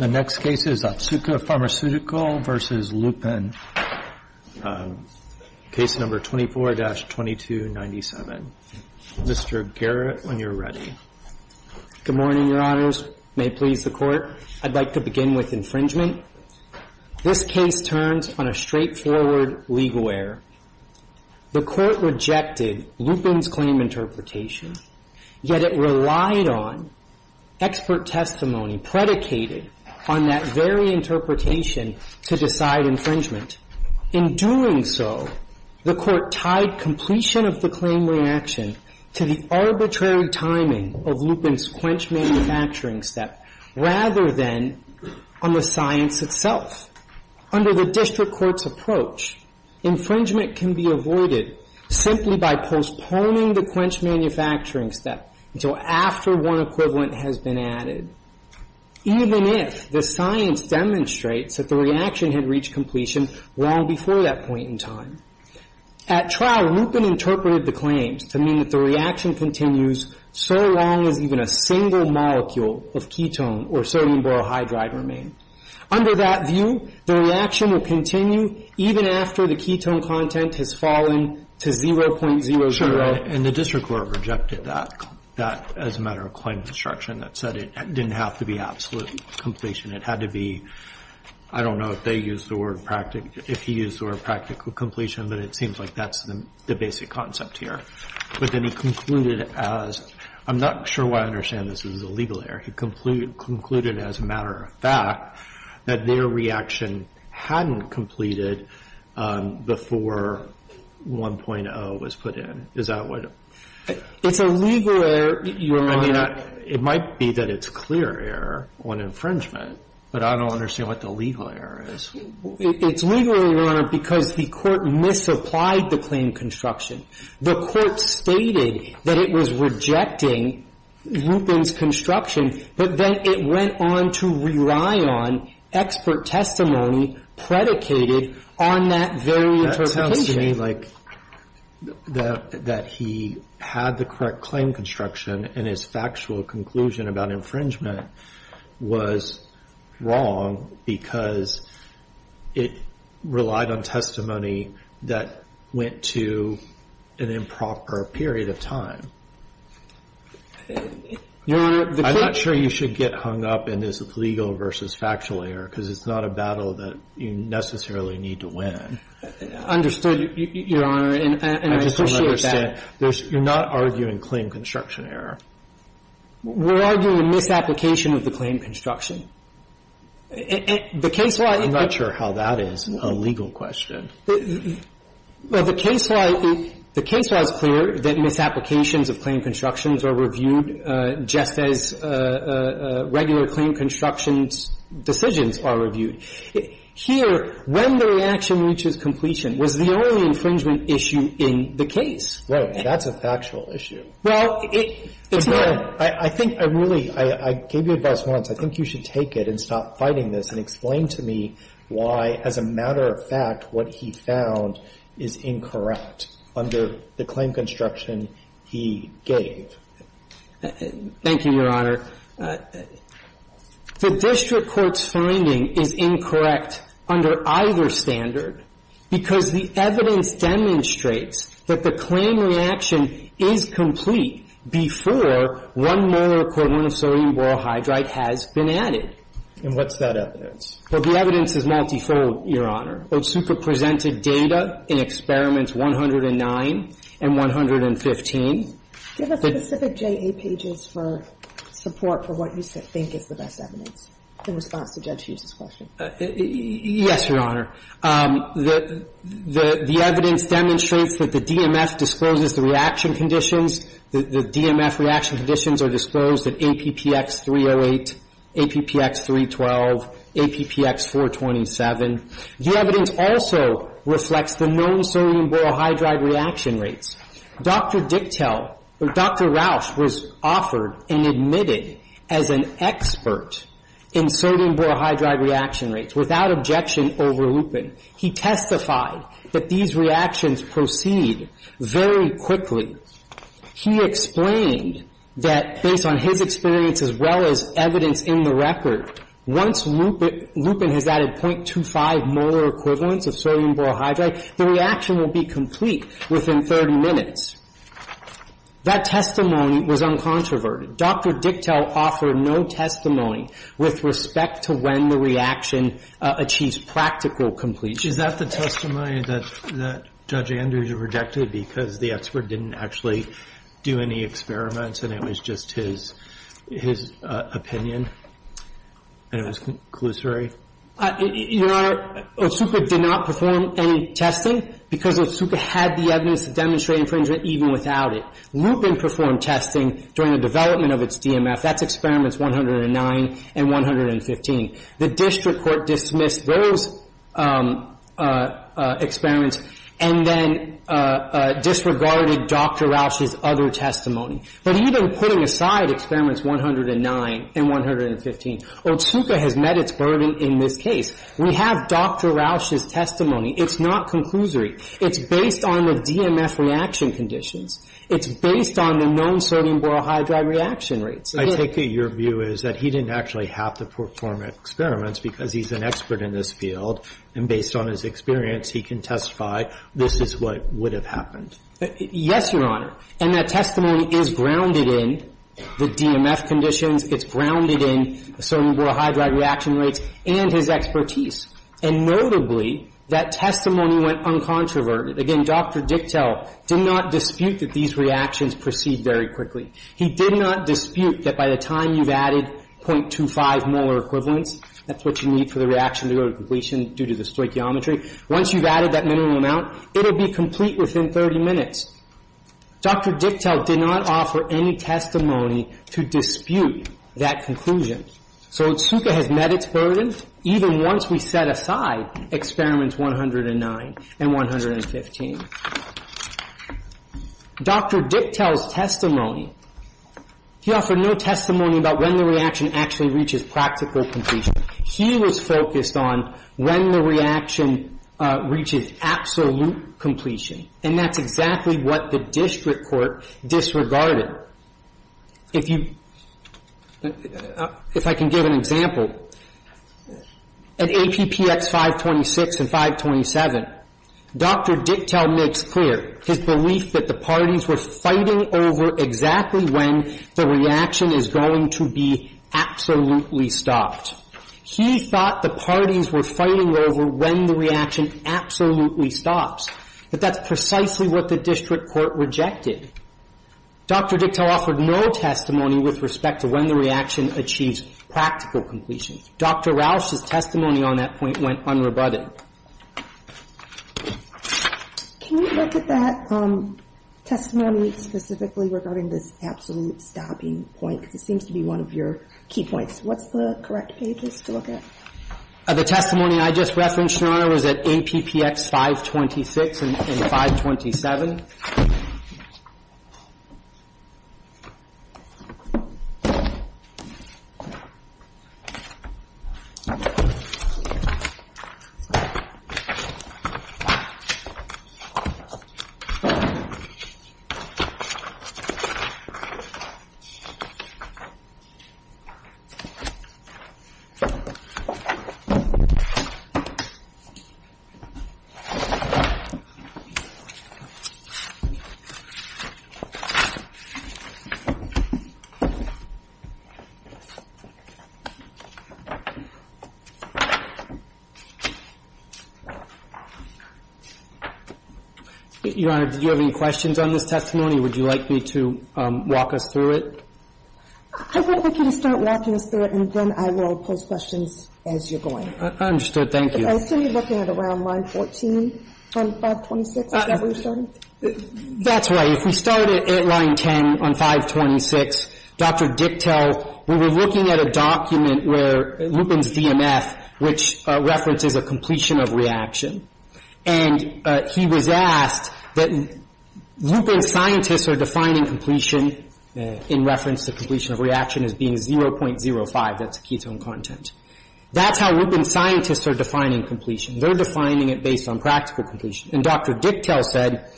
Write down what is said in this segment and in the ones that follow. The next case is Otsuka Pharmaceutical v. Lupin, Case No. 24-2297. Mr. Garrett, when you're ready. Good morning, Your Honors. May it please the Court, I'd like to begin with infringement. This case turns on a straightforward legal error. The Court rejected Lupin's claim interpretation, yet it relied on expert testimony predicated on that very interpretation to decide infringement. In doing so, the Court tied completion of the claim reaction to the arbitrary timing of Lupin's quench manufacturing step, rather than on the science itself. Under the district court's approach, infringement can be avoided simply by postponing the quench manufacturing step until after one equivalent has been added, even if the science demonstrates that the reaction had reached completion long before that point in time. At trial, Lupin interpreted the claims to mean that the reaction continues so long as even a single molecule of ketone or sodium borohydride remained. Under that view, the reaction will continue even after the ketone content has fallen to 0.00. And the district court rejected that as a matter of claim construction. That said, it didn't have to be absolute completion. It had to be, I don't know if they used the word practical, if he used the word practical completion, but it seems like that's the basic concept here. But then he concluded as, I'm not sure why I understand this is a legal error. He concluded as a matter of fact that their reaction hadn't completed before 1.0 was put in. Is that what? It's a legal error. I mean, it might be that it's clear error on infringement, but I don't understand what the legal error is. It's legal error because the court misapplied the claim construction. The court stated that it was rejecting Lupin's construction, but then it went on to rely on expert testimony predicated on that very interpretation. So you're saying, like, that he had the correct claim construction and his factual conclusion about infringement was wrong because it relied on testimony that went to an improper period of time? I'm not sure you should get hung up in this legal versus factual error because it's not a battle that you necessarily need to win. I understood, Your Honor, and I appreciate that. I just don't understand. You're not arguing claim construction error. We're arguing misapplication of the claim construction. The case law — I'm not sure how that is a legal question. The case law is clear that misapplications of claim constructions are reviewed just as regular claim construction decisions are reviewed. Here, when the reaction reaches completion, was the only infringement issue in the case. Right. That's a factual issue. Well, it's not. I think I really — I gave you advice once. I think you should take it and stop fighting this and explain to me why, as a matter of fact, what he found is incorrect under the claim construction he gave. Thank you, Your Honor. The district court's finding is incorrect under either standard because the evidence demonstrates that the claim reaction is complete before one molar of sodium borohydride has been added. And what's that evidence? Well, the evidence is multifold, Your Honor. OSUPA presented data in Experiments 109 and 115. Give us specific J.A. pages for support for what you think is the best evidence in response to Judge Hughes's question. Yes, Your Honor. The evidence demonstrates that the DMF discloses the reaction conditions. The DMF reaction conditions are disclosed at APPX 308, APPX 312, APPX 427. The evidence also reflects the known sodium borohydride reaction rates. Dr. Dicktel, or Dr. Rausch, was offered and admitted as an expert in sodium borohydride reaction rates without objection over lupin. He testified that these reactions proceed very quickly. He explained that, based on his experience as well as evidence in the record, once lupin has added 0.25 molar equivalents of sodium borohydride, the reaction will be complete within 30 minutes. That testimony was uncontroverted. Dr. Dicktel offered no testimony with respect to when the reaction achieves practical completion. Is that the testimony that Judge Andrews rejected because the expert didn't actually do any experiments and it was just his opinion and it was conclusory? Your Honor, Otsuka did not perform any testing because Otsuka had the evidence to demonstrate infringement even without it. Lupin performed testing during the development of its DMF. That's Experiments 109 and 115. The district court dismissed those experiments and then disregarded Dr. Rausch's other testimony. But even putting aside Experiments 109 and 115, Otsuka has met its burden in this case. We have Dr. Rausch's testimony. It's not conclusory. It's based on the DMF reaction conditions. It's based on the known sodium borohydride reaction rates. I take it your view is that he didn't actually have to perform experiments because he's an expert in this field and based on his experience, he can testify this is what would have happened. Yes, Your Honor. And that testimony is grounded in the DMF conditions. It's grounded in sodium borohydride reaction rates and his expertise. And notably, that testimony went uncontroverted. Again, Dr. Dichtel did not dispute that these reactions proceed very quickly. He did not dispute that by the time you've added .25 molar equivalents, that's what you need for the reaction to go to completion due to the stoichiometry. Once you've added that minimum amount, it'll be complete within 30 minutes. Dr. Dichtel did not offer any testimony to dispute that conclusion. So Zuka has met its burden even once we set aside experiments 109 and 115. Dr. Dichtel's testimony, he offered no testimony about when the reaction actually reaches practical completion. He was focused on when the reaction reaches absolute completion. And that's exactly what the district court disregarded. If you, if I can give an example. At APPX 526 and 527, Dr. Dichtel makes clear his belief that the parties were fighting over exactly when the reaction is going to be absolutely stopped. He thought the parties were fighting over when the reaction absolutely stops. But that's precisely what the district court rejected. Dr. Dichtel offered no testimony with respect to when the reaction achieves practical completion. Dr. Rausch's testimony on that point went unrebutted. Can you look at that testimony specifically regarding this absolute stopping point? Because it seems to be one of your key points. What's the correct pages to look at? The testimony I just referenced, Your Honor, was at APPX 526 and 527. Now, let's move along to the next step. Your Honor, do you have any questions on this testimony, or would you like me to walk us through it? I would like you to start walking us through it, and then I will pose questions as you're going. Understood. Thank you. I assume you're looking at around line 14 on 526, is that where you're starting? That's right. If we start at line 10 on 526, Dr. Dicktel, we were looking at a document where Lupin's DMF, which references a completion of reaction, and he was asked that Lupin's scientists are defining completion in reference to completion of reaction as being 0.05, that's ketone content. That's how Lupin's scientists are defining completion. They're defining it based on practical completion. And Dr. Dicktel said,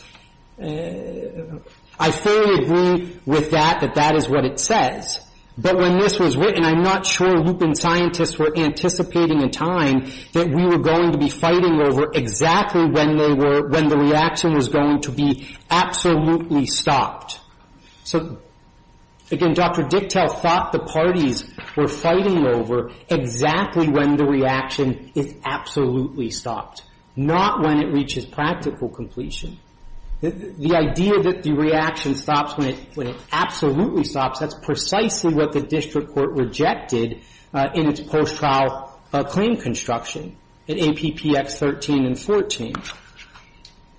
I fully agree with that, that that is what it says, but when this was written, I'm not sure Lupin's scientists were anticipating in time that we were going to be fighting over exactly when they were, when the reaction was going to be absolutely stopped. So, again, Dr. Dicktel thought the parties were fighting over exactly when the reaction is absolutely stopped, not when it reaches practical completion. The idea that the reaction stops when it absolutely stops, that's precisely what the district court rejected in its post-trial claim construction in APPX 13 and 14.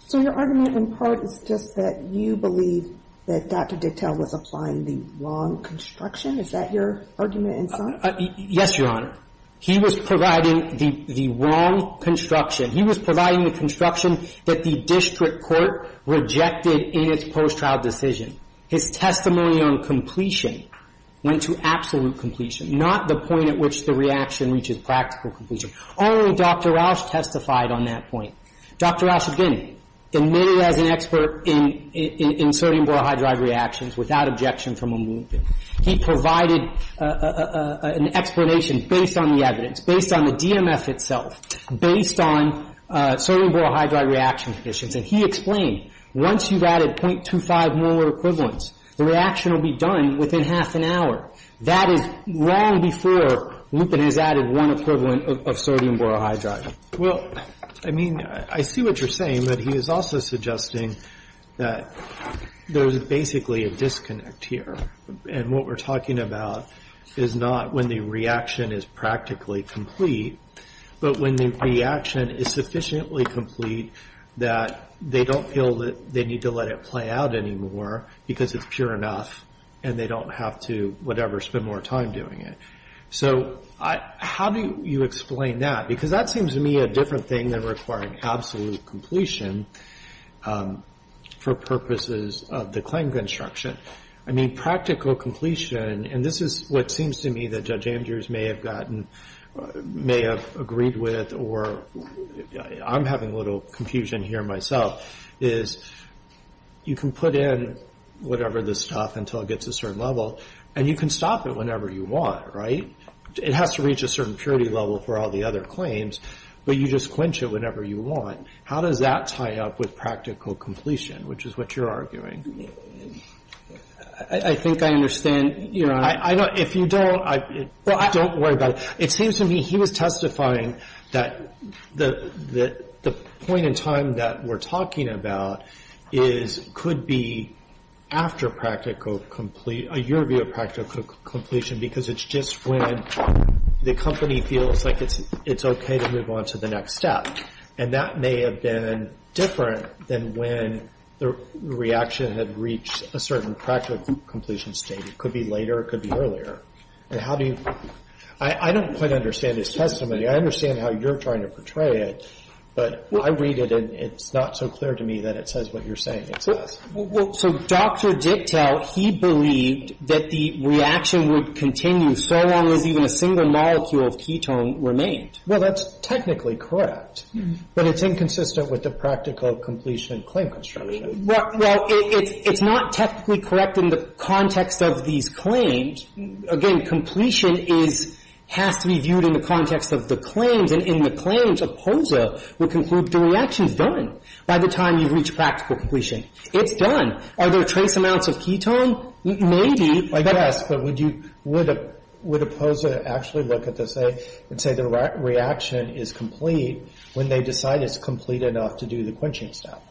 So your argument in part is just that you believe that Dr. Dicktel was applying the wrong construction? Is that your argument in sum? Yes, Your Honor. He was providing the wrong construction. He was providing the construction that the district court rejected in its post-trial decision. His testimony on completion went to absolute completion, not the point at which the reaction reaches practical completion. Only Dr. Rausch testified on that point. Dr. Rausch, again, admitted as an expert in sodium borohydride reactions without objection from a Lupin. He provided an explanation based on the evidence, based on the DMF itself, based on sodium borohydride reaction conditions, and he explained once you've added .25 molar equivalents, the reaction will be done within half an hour. That is long before Lupin has added one equivalent of sodium borohydride. Well, I mean, I see what you're saying, but he is also suggesting that there's basically a disconnect here. And what we're talking about is not when the reaction is practically complete, but when the reaction is sufficiently complete that they don't feel that they need to let it play out anymore because it's pure enough and they don't have to, whatever, spend more time doing it. So how do you explain that? Because that seems to me a different thing than requiring absolute completion for purposes of the claim construction. I mean, practical completion, and this is what seems to me that Judge Andrews may have gotten, may have agreed with, or I'm having a little confusion here myself, is you can put in whatever the stuff until it gets a certain level, and you can stop it whenever you want, right? It has to reach a certain purity level for all the other claims, but you just quench it whenever you want. How does that tie up with practical completion, which is what you're arguing? I think I understand, Your Honor. If you don't, don't worry about it. It seems to me he was testifying that the point in time that we're talking about could be after a year of practical completion because it's just when the company feels like it's okay to move on to the next step. And that may have been different than when the reaction had reached a certain practical completion state. It could be later. It could be earlier. And how do you – I don't quite understand his testimony. I understand how you're trying to portray it, but I read it, and it's not so clear to me that it says what you're saying it says. Well, so Dr. Dicktel, he believed that the reaction would continue so long as even a single molecule of ketone remained. Well, that's technically correct, but it's inconsistent with the practical completion claim construction. Well, it's not technically correct in the context of these claims. Again, completion is – has to be viewed in the context of the claims. And in the claims, APOSA would conclude the reaction is done by the time you reach practical completion. It's done. Are there trace amounts of ketone? Maybe. I guess, but would you – would APOSA actually look at this and say the reaction is complete when they decide it's complete enough to do the quenching step?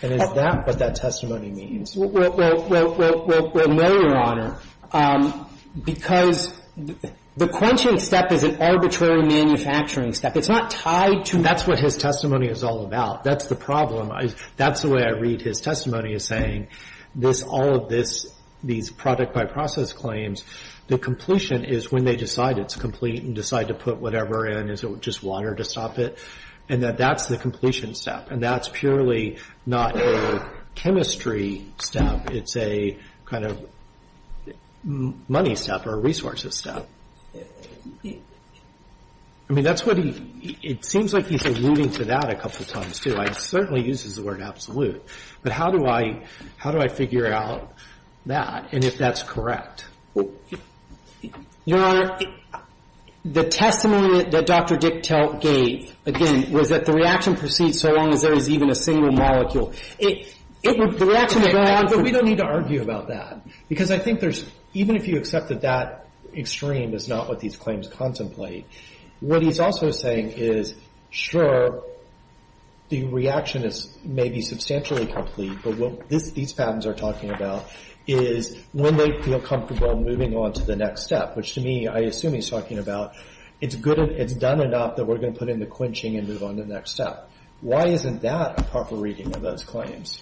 And is that what that testimony means? Well, no, Your Honor, because the quenching step is an arbitrary manufacturing step. It's not tied to – That's what his testimony is all about. That's the problem. That's the way I read his testimony, is saying this – all of this – these product by process claims, the completion is when they decide it's complete and decide to put whatever in. Is it just water to stop it? And that that's the completion step. And that's purely not a chemistry step. It's a kind of money step or resources step. I mean, that's what he – it seems like he's alluding to that a couple times, too. He certainly uses the word absolute. But how do I – how do I figure out that and if that's correct? Your Honor, the testimony that Dr. Diktel gave, again, was that the reaction proceeds so long as there is even a single molecule. It would – the reaction would go on. But we don't need to argue about that. Because I think there's – even if you accept that that extreme is not what these claims contemplate, what he's also saying is, sure, the reaction is maybe substantially complete, but what these patents are talking about is when they feel comfortable moving on to the next step, which to me, I assume he's talking about it's good up that we're going to put in the quenching and move on to the next step. Why isn't that a proper reading of those claims?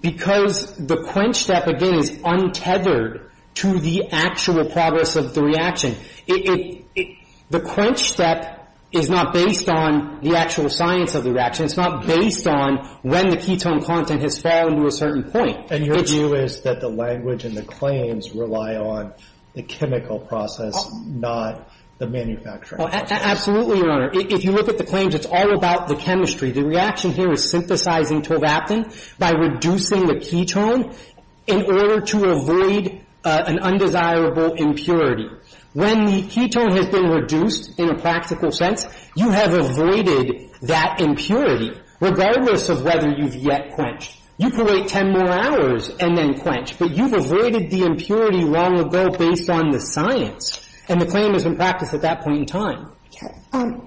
Because the quench step, again, is untethered to the actual progress of the reaction. The quench step is not based on the actual science of the reaction. It's not based on when the ketone content has fallen to a certain point. And your view is that the language and the claims rely on the chemical process, not the manufacturing process. Absolutely, Your Honor. If you look at the claims, it's all about the chemistry. The reaction here is synthesizing tovaptan by reducing the ketone in order to avoid an undesirable impurity. When the ketone has been reduced in a practical sense, you have avoided that impurity, regardless of whether you've yet quenched. You can wait ten more hours and then quench, but you've avoided the impurity long ago based on the science. And the claim has been practiced at that point in time. I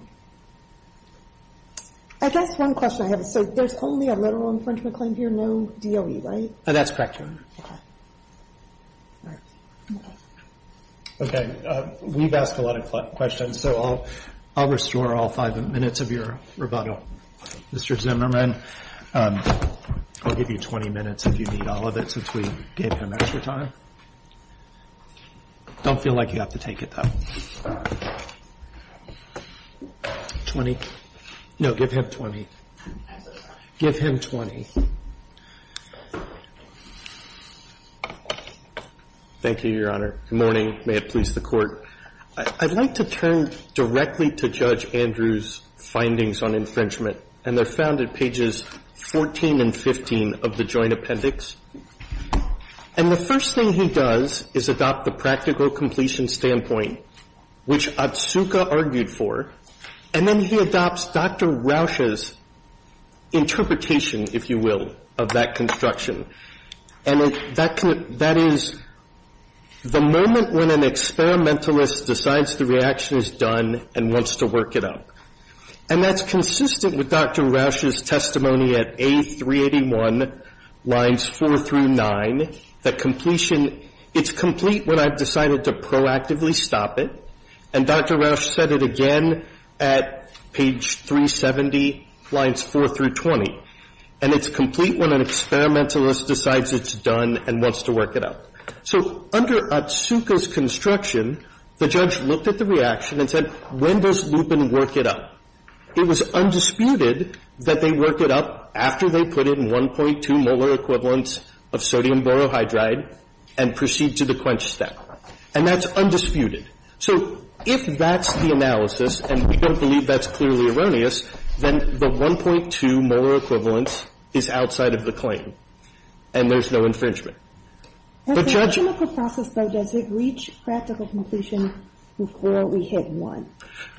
guess one question I have is, so there's only a literal infringement claim here, no DOE, right? That's correct, Your Honor. Okay. All right. Okay. Okay. We've asked a lot of questions, so I'll restore all five minutes of your rebuttal. Mr. Zimmerman, I'll give you 20 minutes if you need all of it since we gave him extra time. Don't feel like you have to take it, though. Twenty? No, give him 20. Give him 20. Thank you, Your Honor. Good morning. May it please the Court. I'd like to turn directly to Judge Andrews' findings on infringement, and they're found at pages 14 and 15 of the Joint Appendix. And the first thing he does is adopt the practical completion standpoint, which Otsuka argued for, and then he adopts Dr. Rausch's interpretation, if you will, of that construction. And that is the moment when an experimentalist decides the reaction is done and wants to work it out. And that's consistent with Dr. Rausch's testimony at A381 lines 4 through 9, that completion – it's complete when I've decided to proactively stop it, and Dr. Rausch said it again at page 370, lines 4 through 20. And it's complete when an experimentalist decides it's done and wants to work it out. So under Otsuka's construction, the judge looked at the reaction and said, when does Dr. Rausch decide to loop and work it up? It was undisputed that they work it up after they put in 1.2 molar equivalents of sodium borohydride and proceed to the quench step. And that's undisputed. So if that's the analysis, and we don't believe that's clearly erroneous, then the 1.2 molar equivalents is outside of the claim, and there's no infringement. But Judge – But in the chemical process, though, does it reach practical completion before we hit 1?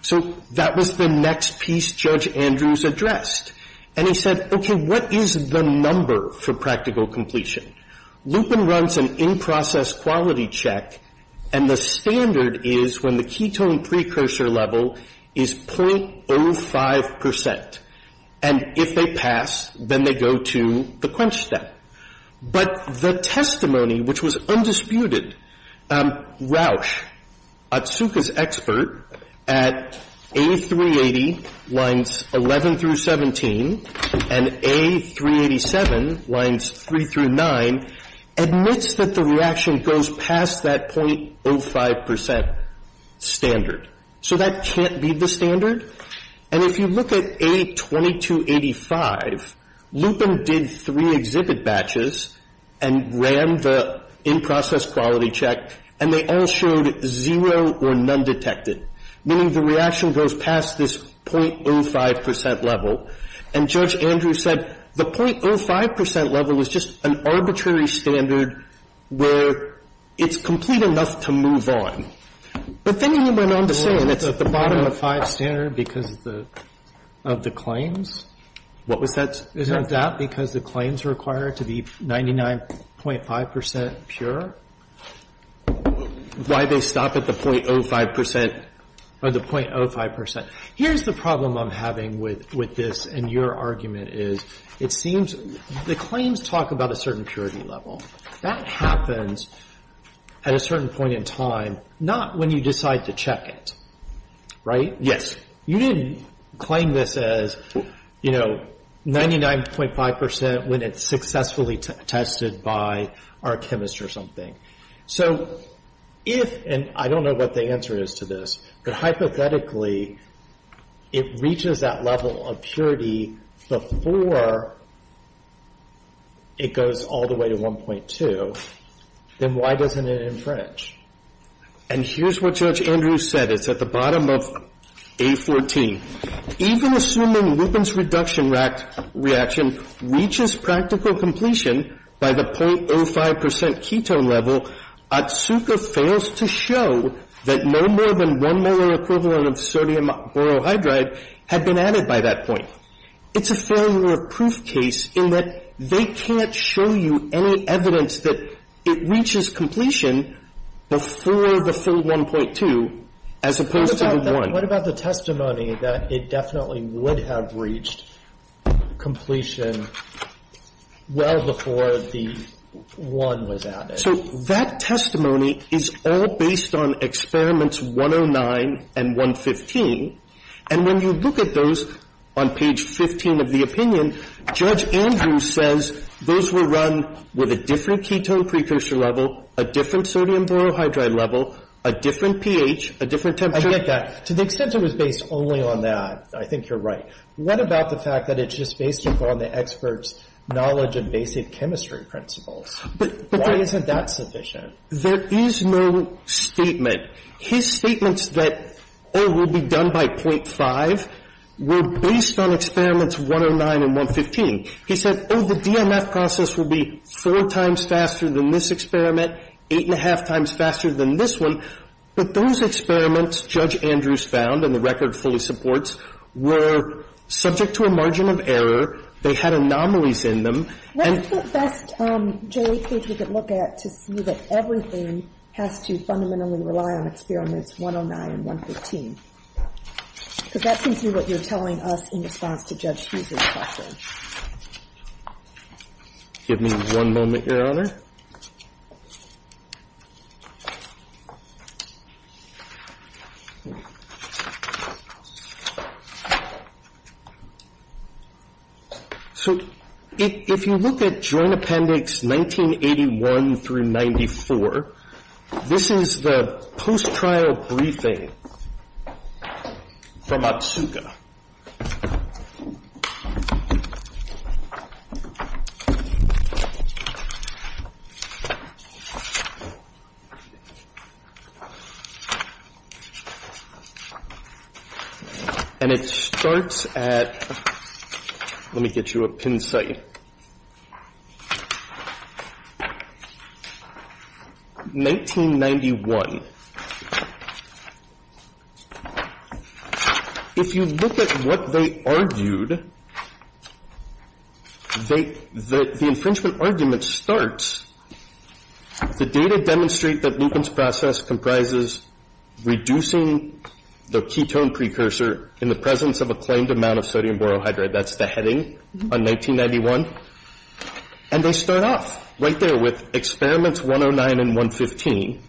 So that was the next piece Judge Andrews addressed. And he said, okay, what is the number for practical completion? Lupin runs an in-process quality check, and the standard is when the ketone precursor level is .05 percent. And if they pass, then they go to the quench step. But the testimony, which was undisputed, Rausch, Otsuka's expert, at A380 lines 11 through 17, and A387 lines 3 through 9, admits that the reaction goes past that .05 percent standard. So that can't be the standard. And if you look at A2285, Lupin did three exhibit batches and ran the in-process quality check, and they all showed zero or none detected, meaning the reaction goes past this .05 percent level. And Judge Andrews said the .05 percent level is just an arbitrary standard where it's complete enough to move on. But then he went on to say that's the bottom of the five standard because of the claims. What was that? Isn't that because the claims are required to be 99.5 percent pure? Why they stop at the .05 percent? Or the .05 percent. Here's the problem I'm having with this, and your argument is it seems the claims talk about a certain purity level. That happens at a certain point in time, not when you decide to check it. Right? Yes. You didn't claim this as, you know, 99.5 percent when it's successfully tested by our chemist or something. So if, and I don't know what the answer is to this, but hypothetically it reaches that level of purity before it goes all the way to 1.2, then why doesn't it infringe? And here's what Judge Andrews said. It's at the bottom of A14. Even assuming Lupin's reduction reaction reaches practical completion by the .05 percent ketone level, Otsuka fails to show that no more than one molar equivalent of sodium borohydride had been added by that point. It's a failure of proof case in that they can't show you any evidence that it reaches completion before the full 1.2 as opposed to the 1. What about the testimony that it definitely would have reached completion well before the 1 was added? So that testimony is all based on Experiments 109 and 115. And when you look at those on page 15 of the opinion, Judge Andrews says those were run with a different ketone precursor level, a different sodium borohydride level, a different pH, a different temperature. I get that. To the extent it was based only on that, I think you're right. What about the fact that it's just based upon the expert's knowledge of basic chemistry principles? Why isn't that sufficient? There is no statement. His statements that O will be done by .5 were based on Experiments 109 and 115. He said, oh, the DMF process will be four times faster than this experiment, eight and a half times faster than this one. But those experiments, Judge Andrews found, and the record fully supports, were subject to a margin of error. They had anomalies in them. What's the best J8 page we could look at to see that everything has to fundamentally rely on Experiments 109 and 115? Because that seems to be what you're telling us in response to Judge Hughes's question. Give me one moment, Your Honor. So if you look at Joint Appendix 1981-94, this is the post-trial briefing from Otsuka. And it starts at, let me get you a pin site, 1991. If you look at what they argued, the infringement argument starts, the data demonstrate that Newcomb's process comprises reducing the ketone precursor in the presence of a claimed amount of sodium borohydride. That's the heading on 1991. And they start off right there with Experiments 109 and 115.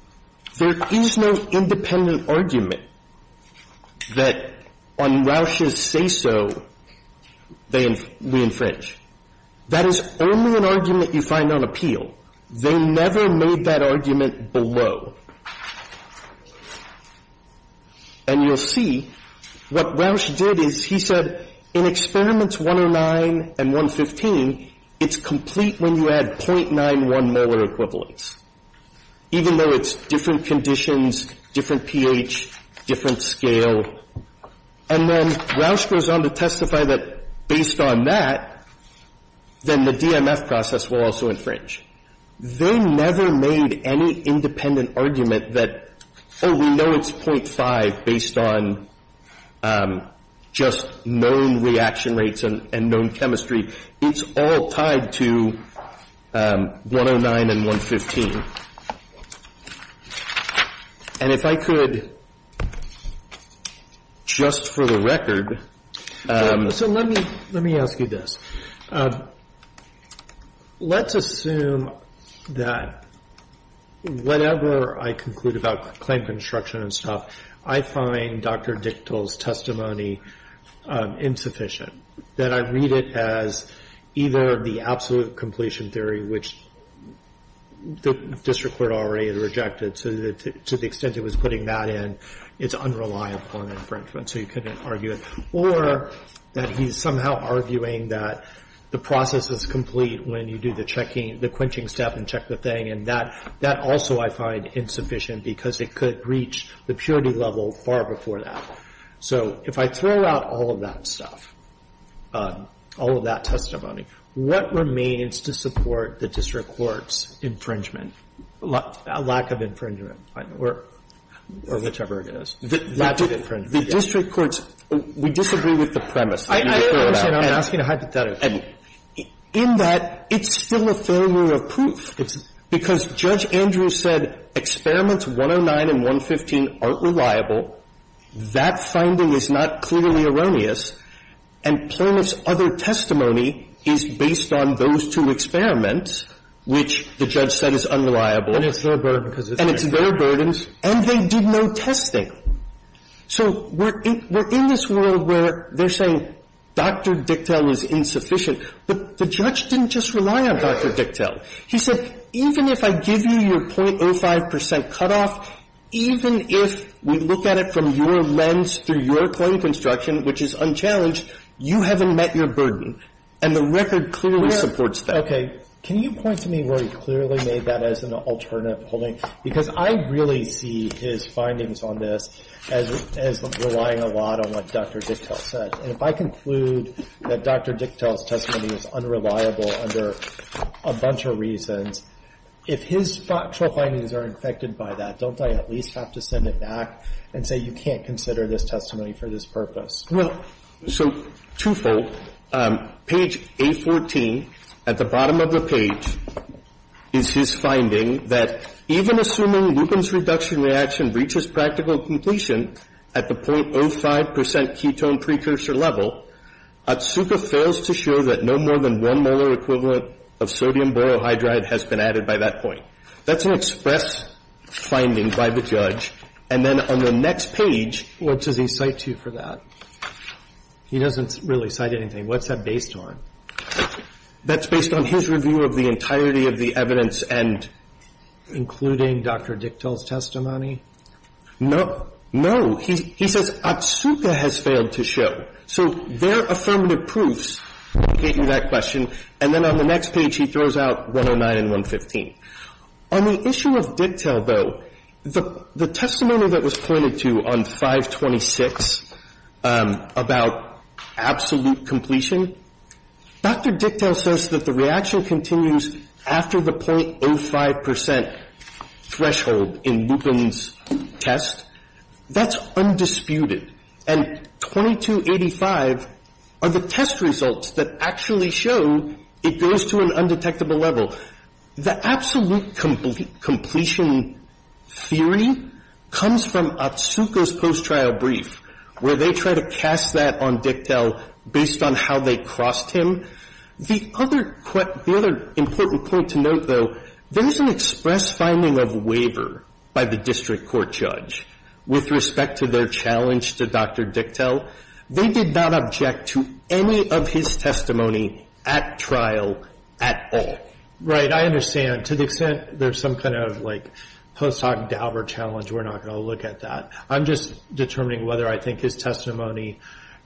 There is no independent argument that on Rausch's say-so, we infringe. That is only an argument you find on appeal. They never made that argument below. And you'll see what Rausch did is he said in Experiments 109 and 115, it's complete when you add .91 molar equivalents, even though it's different conditions, different pH, different scale. And then Rausch goes on to testify that based on that, then the DMF process will also infringe. They never made any independent argument that, oh, we know it's .5 based on just known reaction rates and known chemistry. It's all tied to 109 and 115. And if I could, just for the record. So let me ask you this. Let's assume that whatever I conclude about claim construction and stuff, I find Dr. Dichtel's testimony insufficient, that I read it as either the absolute completion theory, which the district court already had rejected to the extent it was putting that in, it's unreliable on infringement, so you couldn't argue it, or that he's somehow arguing that the process is complete when you do the quenching step and check the thing. And that also I find insufficient because it could reach the purity level far before that. So if I throw out all of that stuff, all of that testimony, what remains to support the district court's infringement, lack of infringement, or whichever it is, lack of infringement? The district court's, we disagree with the premise that you just threw out. I understand. I'm asking to hide the data. In that, it's still a failure of proof. It's because Judge Andrews said experiments 109 and 115 aren't reliable. That finding is not clearly erroneous. And Planoff's other testimony is based on those two experiments, which the judge said is unreliable. And it's their burden because it's their test. And it's their burden, and they did no testing. So we're in this world where they're saying Dr. Dictel is insufficient. But the judge didn't just rely on Dr. Dictel. He said, even if I give you your .05 percent cutoff, even if we look at it from your point of construction, which is unchallenged, you haven't met your burden. And the record clearly supports that. Can you point to me where he clearly made that as an alternative holding? Because I really see his findings on this as relying a lot on what Dr. Dictel said. And if I conclude that Dr. Dictel's testimony is unreliable under a bunch of reasons, if his factual findings are infected by that, don't I at least have to send it back and say you can't consider this testimony for this purpose? Well, so twofold. Page A14, at the bottom of the page, is his finding that even assuming Lupin's reduction reaction reaches practical completion at the .05 percent ketone precursor level, Atsuka fails to show that no more than one molar equivalent of sodium borohydride has been added by that point. That's an express finding by the judge. And then on the next page. What does he cite to you for that? He doesn't really cite anything. What's that based on? That's based on his review of the entirety of the evidence and... Including Dr. Dictel's testimony? No. No. He says Atsuka has failed to show. So there are affirmative proofs to get you that question. And then on the next page, he throws out 109 and 115. On the issue of Dictel, though, the testimony that was pointed to on 526 about absolute completion, Dr. Dictel says that the reaction continues after the .05 percent threshold in Lupin's test. That's undisputed. And 2285 are the test results that actually show it goes to an undetectable level. The absolute completion theory comes from Atsuka's post-trial brief, where they try to cast that on Dictel based on how they crossed him. The other important point to note, though, there is an express finding of waiver by the district court judge with respect to their challenge to Dr. Dictel. They did not object to any of his testimony at trial at all. Right. I understand. To the extent there's some kind of, like, post hoc Daubert challenge, we're not going to look at that. I'm just determining whether I think his testimony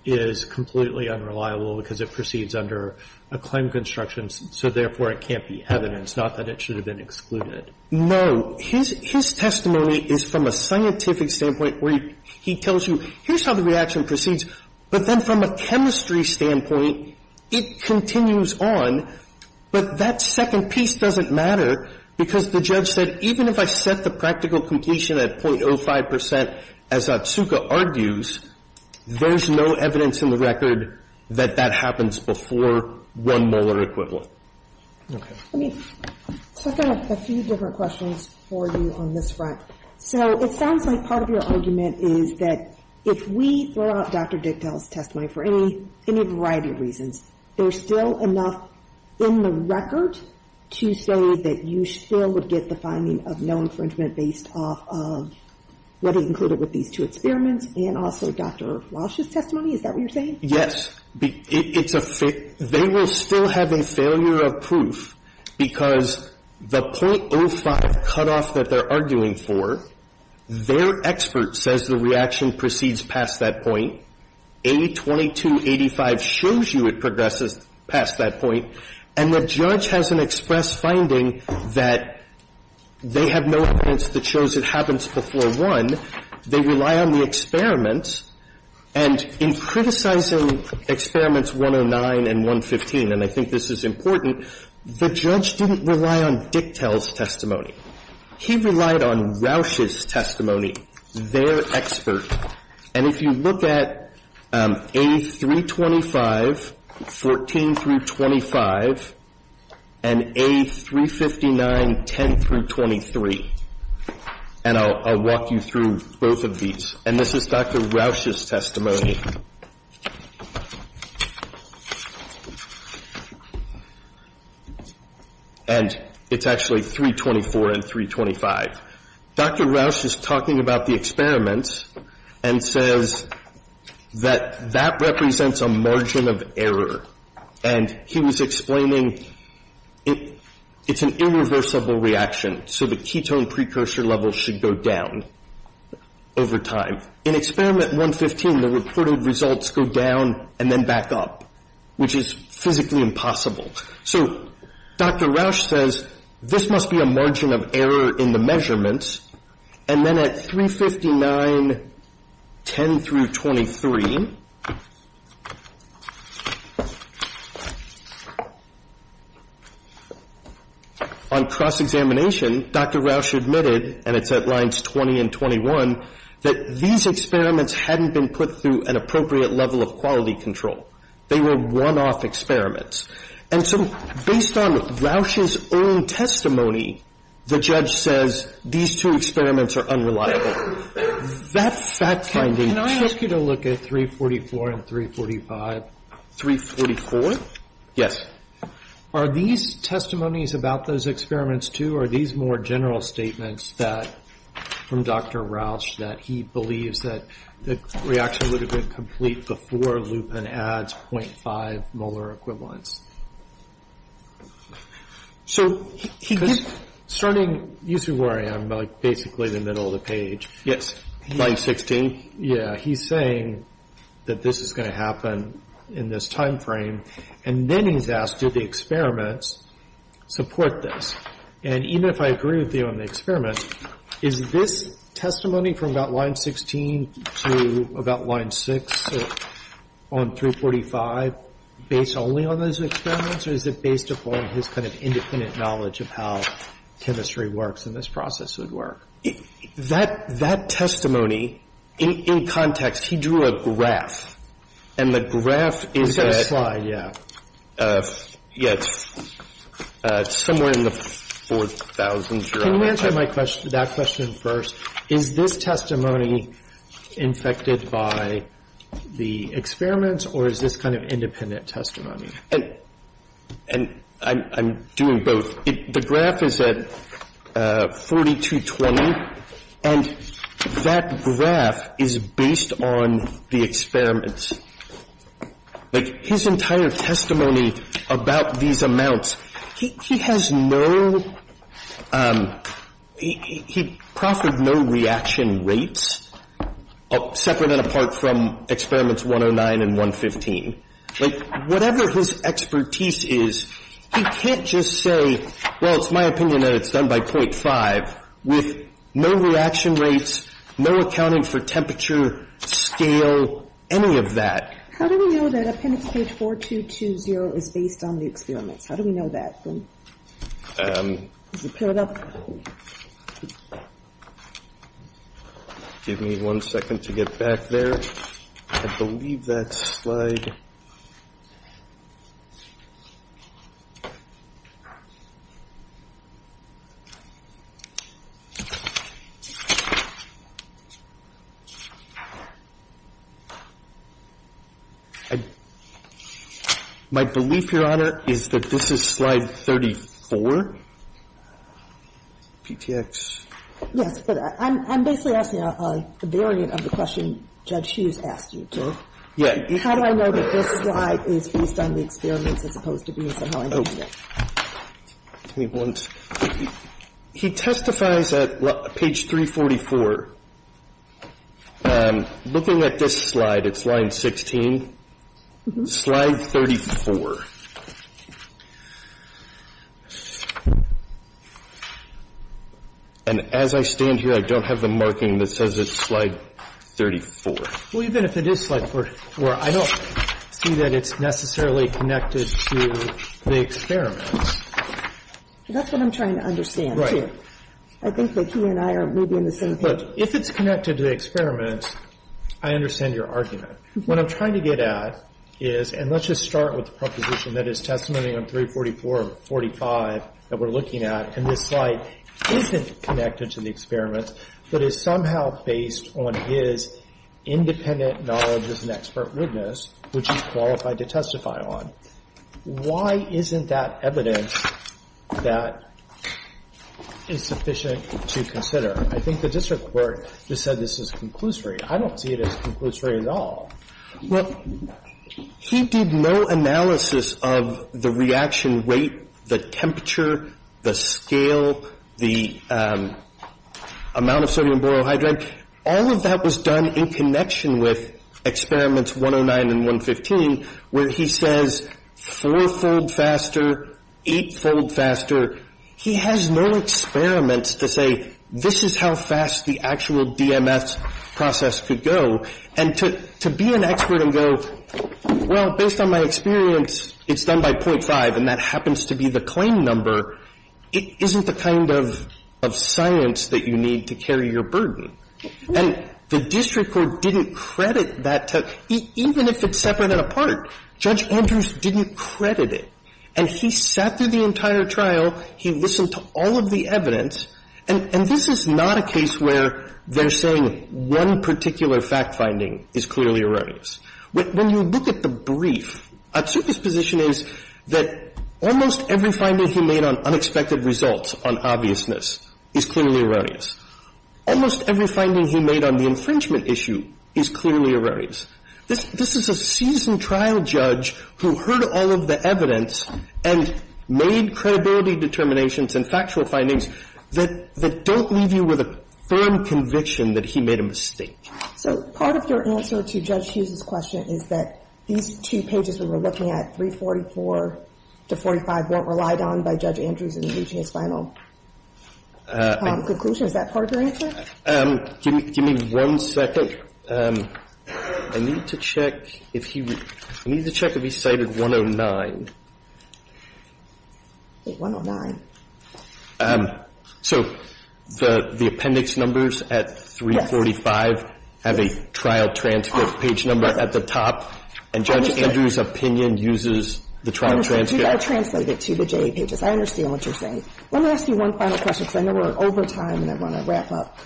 is completely unreliable because it proceeds under a claim construction, so therefore it can't be evidence, not that it should have been excluded. No. His testimony is from a scientific standpoint where he tells you here's how the reaction proceeds, but then from a chemistry standpoint, it continues on. But that second piece doesn't matter, because the judge said even if I set the practical completion at .05 percent, as Atsuka argues, there's no evidence in the record that that happens before one molar equivalent. Let me set out a few different questions for you on this front. So it sounds like part of your argument is that if we throw out Dr. Dictel's in the record to say that you still would get the finding of no infringement based off of what is included with these two experiments and also Dr. Walsh's testimony, is that what you're saying? Yes. It's a failure. They will still have a failure of proof because the .05 cutoff that they're arguing for, their expert says the reaction proceeds past that point. A2285 shows you it progresses past that point, and the judge has an express finding that they have no evidence that shows it happens before one. They rely on the experiments. And in criticizing Experiments 109 and 115, and I think this is important, the judge didn't rely on Dictel's testimony. He relied on Walsh's testimony, their expert. And if you look at A325, 14 through 25, and A359, 10 through 23, and I'll walk you through both of these. And this is Dr. Walsh's testimony. And it's actually 324 and 325. Dr. Walsh is talking about the experiments and says that that represents a margin of error. And he was explaining it's an irreversible reaction, so the ketone precursor level should go down over time. In Experiment 115, the reported results go down and then back up, which is physically impossible. So Dr. Walsh says this must be a margin of error in the measurements. And then at 359, 10 through 23, on cross-examination, Dr. Walsh admitted, and it's at lines 20 and 21, that these experiments hadn't been put through an appropriate level of quality control. They were one-off experiments. And so based on Walsh's own testimony, the judge says these two experiments are unreliable. That's fact-finding. Can I ask you to look at 344 and 345? 344? Yes. Are these testimonies about those experiments, too, or are these more general statements that, from Dr. Walsh, that he believes that the reaction would have been complete before lupin adds 0.5 molar equivalents? So he gives – Starting usually where I am, like basically the middle of the page. Line 16. Yeah. He's saying that this is going to happen in this timeframe, and then he's asked, do the experiments support this? And even if I agree with you on the experiments, is this testimony from about line 16 to about line 6 on 345 based only on those experiments, or is it based upon his kind of independent knowledge of how chemistry works and this process would work? That testimony, in context, he drew a graph. And the graph is at – We've got a slide, yeah. Yeah. It's somewhere in the 4,000s. Can you answer my question, that question first? Is this testimony infected by the experiments, or is this kind of independent testimony? And I'm doing both. The graph is at 4,220, and that graph is based on the experiments. Like, his entire testimony about these amounts, he has no – he proffered no reaction rates separate and apart from experiments 109 and 115. Like, whatever his expertise is, he can't just say, well, it's my opinion that it's done by 0.5 with no reaction rates, no accounting for temperature, scale, any of that. How do we know that appendix page 4,220 is based on the experiments? How do we know that? Can you pull it up? Give me one second to get back there. I believe that slide. My belief, Your Honor, is that this is slide 34, PTX. Yes, but I'm basically asking a variant of the question Judge Hughes asked you, too. Yeah. How do I know that this slide is based on the experiments as opposed to being somehow independent? Give me one second. He testifies at page 344. Looking at this slide, it's line 16, slide 34. And as I stand here, I don't have the marking that says it's slide 34. Well, even if it is slide 34, I don't see that it's necessarily connected to the experiments. That's what I'm trying to understand, too. I think that he and I are maybe in the same page. Look, if it's connected to the experiments, I understand your argument. What I'm trying to get at is – and let's just start with the proposition that is testimony on 344 and 45 that we're looking at. And this slide isn't connected to the experiments, but is somehow based on his independent knowledge as an expert witness, which he's qualified to testify on. Why isn't that evidence that is sufficient to consider? I think the district court just said this is conclusory. I don't see it as conclusory at all. Well, he did no analysis of the reaction rate, the temperature, the scale, the amount of sodium borohydride. All of that was done in connection with experiments 109 and 115, where he says four-fold faster, eight-fold faster. He has no experiments to say this is how fast the actual DMS process could go. And to be an expert and go, well, based on my experience, it's done by .5, and that happens to be the claim number, it isn't the kind of science that you need to carry your burden. And the district court didn't credit that to – even if it's separate and apart, Judge Andrews didn't credit it. And he sat through the entire trial. He listened to all of the evidence. And this is not a case where they're saying one particular fact-finding is clearly erroneous. When you look at the brief, Atsuka's position is that almost every finding he made on unexpected results on obviousness is clearly erroneous. Almost every finding he made on the infringement issue is clearly erroneous. This is a seasoned trial judge who heard all of the evidence and made credibility determinations and factual findings that don't leave you with a firm conviction that he made a mistake. So part of your answer to Judge Hughes's question is that these two pages we were looking at, 344 to 45, weren't relied on by Judge Andrews in reaching his final conclusion? Is that part of your answer? Give me one second. I need to check if he – I need to check if he cited 109. Okay, 109. So the appendix numbers at 345 have a trial transcript page number at the top, and Judge Andrews' opinion uses the trial transcript? I understand. You've got to translate it to the JA pages. I understand what you're saying. Let me ask you one final question, because I know we're over time and I want to wrap up.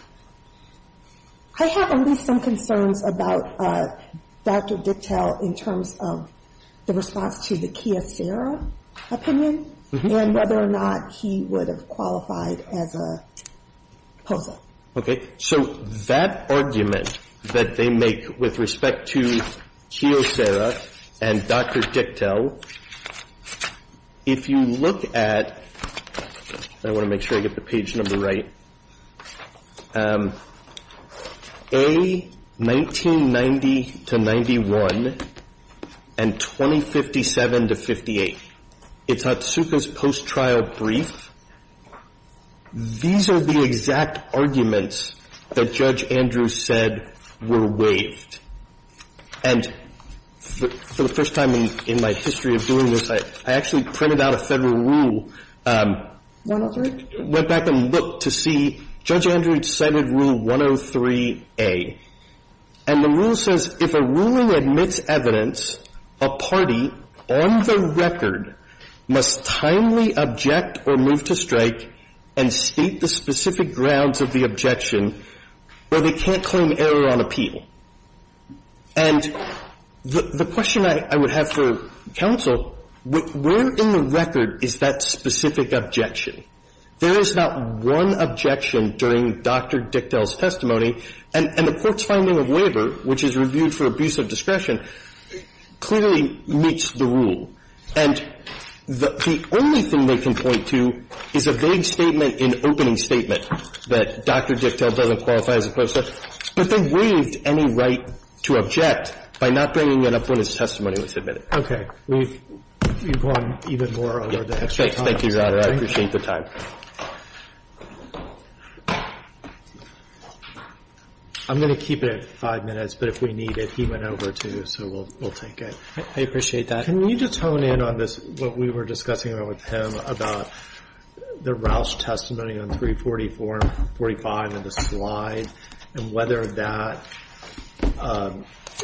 I have at least some concerns about Dr. Dicktel in terms of the response to the Kiyosera opinion and whether or not he would have qualified as a poser. So that argument that they make with respect to Kiyosera and Dr. Dicktel, if you look at – I want to make sure I get the page number right – A, 1990 to 91, and B, 2057 to 58. It's Hatsuka's post-trial brief. These are the exact arguments that Judge Andrews said were waived. And for the first time in my history of doing this, I actually printed out a Federal rule, went back and looked to see – Judge Andrews cited Rule 103A. And the rule says, if a ruling admits evidence apart from a claim, the party on the record must timely object or move to strike and state the specific grounds of the objection where they can't claim error on appeal. And the question I would have for counsel, where in the record is that specific objection? There is not one objection during Dr. Dicktel's testimony. And the Court's finding of labor, which is reviewed for abuse of discretion, clearly meets the rule. And the only thing they can point to is a vague statement, an opening statement, that Dr. Dicktel doesn't qualify as a post-trial. But they waived any right to object by not bringing it up when his testimony was submitted. Roberts. Okay. We've gone even more over the extra time. Thank you, Your Honor. I appreciate the time. I'm going to keep it at 5 minutes, but if we need it, he went over, too, so we'll take it. I appreciate that. Can you just hone in on this, what we were discussing with him about the Roush testimony on 344 and 45 in the slide, and whether that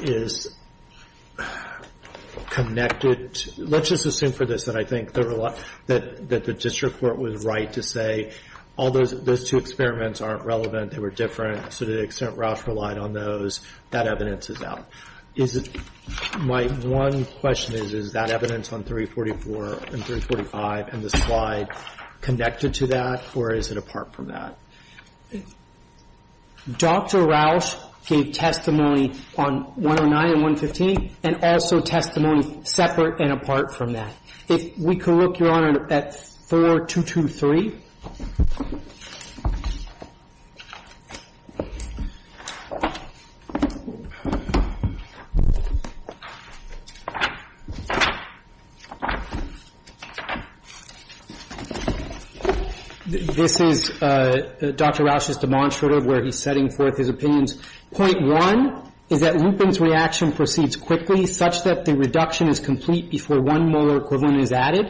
is connected to – let's just assume for this that I think that the district court was right in saying all those two experiments aren't relevant, they were different, so to the extent Roush relied on those, that evidence is out. Is it – my one question is, is that evidence on 344 and 345 and the slide connected to that, or is it apart from that? Dr. Roush gave testimony on 109 and 115, and also testimony separate and apart from that. If we could look, Your Honor, at 4223. This is Dr. Roush's demonstrative where he's setting forth his opinions. Point one is that Lupin's reaction proceeds quickly, such that the reduction is complete before one molar equivalent is added,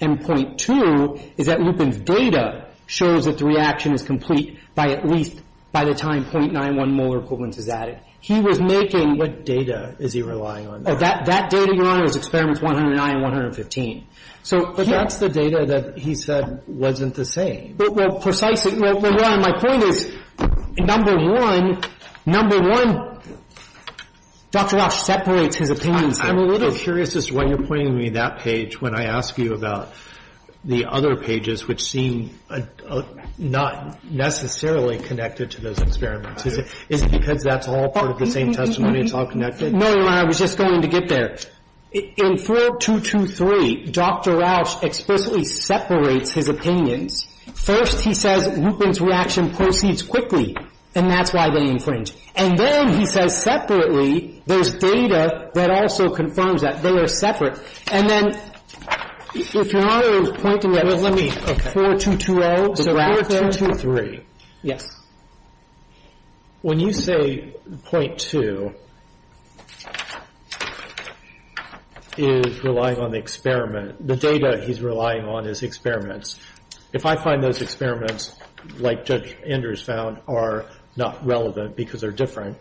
and point two is that Lupin's data shows that the reaction is complete by at least – by the time .91 molar equivalents is added. He was making – What data is he relying on? That data, Your Honor, is experiments 109 and 115. But that's the data that he said wasn't the same. Well, precisely – well, Your Honor, my point is, number one, number one, Dr. Roush separates his opinions. I'm a little curious as to why you're pointing me that page when I ask you about the other pages, which seem not necessarily connected to those experiments. Is it because that's all part of the same testimony, it's all connected? No, Your Honor. I was just going to get there. In 4223, Dr. Roush explicitly separates his opinions. First he says Lupin's reaction proceeds quickly, and that's why they infringe. And then he says separately there's data that also confirms that. They are separate. And then if Your Honor is pointing at 4220, the graph there – the graph there is the data that he's relying on. And then he says, well, the data that he's relying on is the experiments. If I find those experiments, like Judge Andrews found, are not relevant because they're different,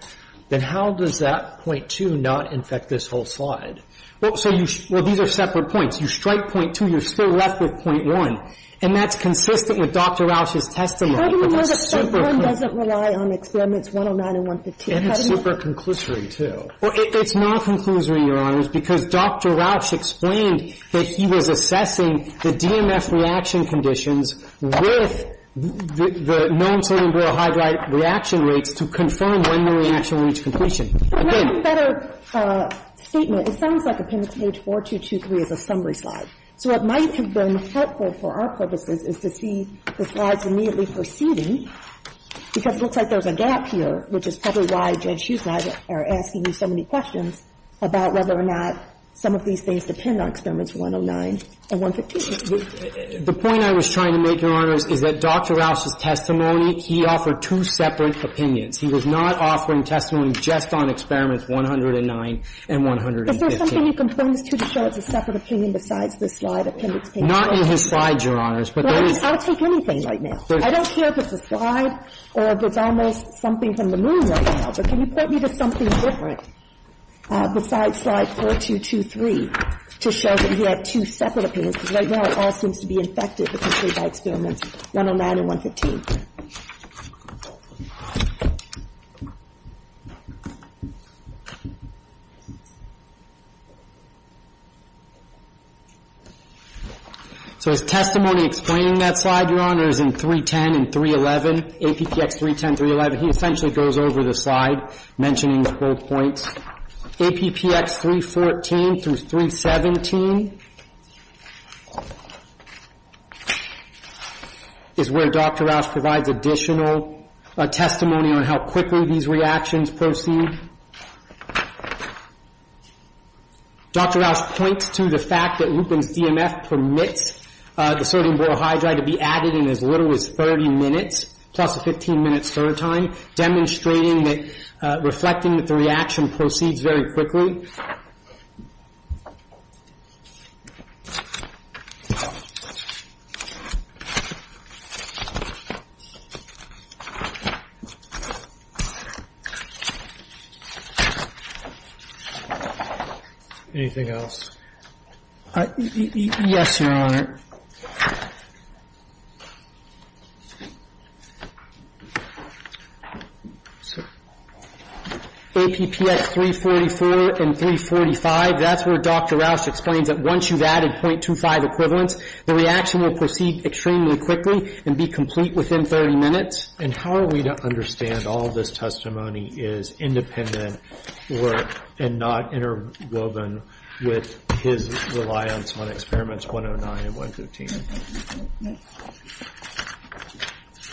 then how does that point 2 not infect this whole slide? Well, so you – well, these are separate points. You strike point 2, you're still left with point 1. And that's consistent with Dr. Roush's testimony. How do you know that point 1 doesn't rely on experiments 109 and 115? And it's super-conclusory, too. Well, it's non-conclusory, Your Honors, because Dr. Roush explained that he was assessing the DMF reaction conditions with the non-sodium borohydride reaction rates to confirm when the reaction would reach completion. Let me make a better statement. It sounds like appendix page 4223 is a summary slide. So what might have been helpful for our purposes is to see the slides immediately proceeding, because it looks like there's a gap here, which is probably why Judge Schuetz and I are asking you so many questions about whether or not some of these things depend on Experiments 109 and 115. The point I was trying to make, Your Honors, is that Dr. Roush's testimony, he offered two separate opinions. He was not offering testimony just on Experiments 109 and 115. Is there something you can point us to to show it's a separate opinion besides this slide, appendix page 4223? Not in his slides, Your Honors, but there is. I'll take anything right now. I don't care if it's a slide or if it's almost something from the moon right now, but can you point me to something different besides slide 4223 to show that you have two separate opinions, because right now it all seems to be infected with Experiments 109 and 115. So his testimony explaining that slide, Your Honors, in 310 and 311, APPX 310, 311, he essentially goes over the slide, mentioning his bullet points. APPX 314 through 317 is where Dr. Roush provides additional testimony on how quickly these reactions proceed. Dr. Roush points to the fact that Lupin's DMF permits the sodium borohydride to be added in as little as 30 minutes, plus a 15-minute stir time, demonstrating that reflecting that the reaction proceeds very quickly. Anything else? Yes, Your Honor. APPX 344 and 345, that's where Dr. Roush explains that once you've added .25 equivalents, the reaction will proceed extremely quickly and be complete within 30 minutes. And how are we to understand all this testimony is independent and not interwoven with his reliance on Experiments 109 and 115?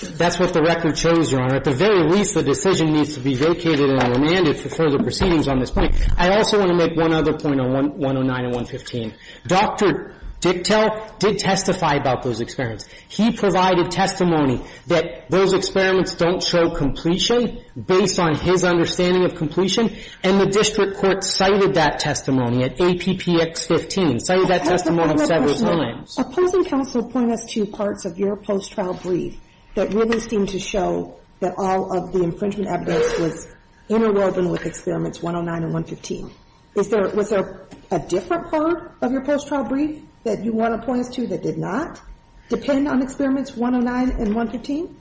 That's what the record shows, Your Honor. At the very least, the decision needs to be vacated and remanded for further proceedings on this point. I also want to make one other point on 109 and 115. Dr. Dicktel did testify about those experiments. He provided testimony that those experiments don't show completion based on his understanding of completion, and the district court cited that testimony at APPX 15, and cited that testimony several times. Opposing counsel point us to parts of your post-trial brief that really seem to show that all of the infringement evidence was interwoven with Experiments 109 and 115. Was there a different part of your post-trial brief that you want to point us to that did not depend on Experiments 109 and 115?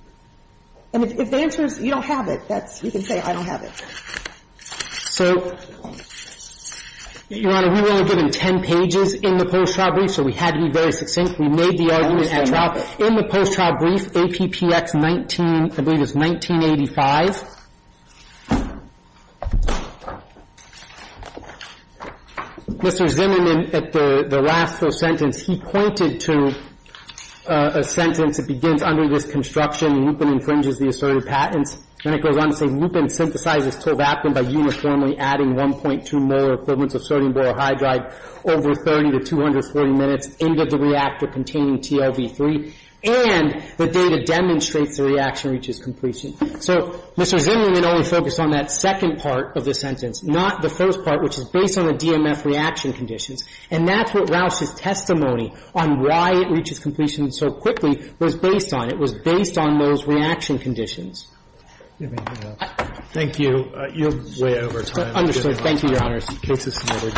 And if the answer is you don't have it, you can say I don't have it. So, Your Honor, we were only given 10 pages in the post-trial brief, so we had to be very succinct. We made the argument at trial. In the post-trial brief, APPX 19, I believe it's 1985, Mr. Zimmerman, at the last sentence, he pointed to a sentence that begins, Under this construction, Lupin infringes the asserted patents. And it goes on to say, Lupin synthesizes tovaprin by uniformly adding 1.2 molar equivalents of sodium borohydride over 30 to 240 minutes into the reactor containing TOV3. And the data demonstrates the reaction reaches completion. So Mr. Zimmerman only focused on that second part of the sentence, not the first part, which is based on the DMF reaction conditions. And that's what Rausch's testimony on why it reaches completion so quickly was based on. It was based on those reaction conditions. Thank you. You're way over time. Understood. Thank you, Your Honor. Case is submitted.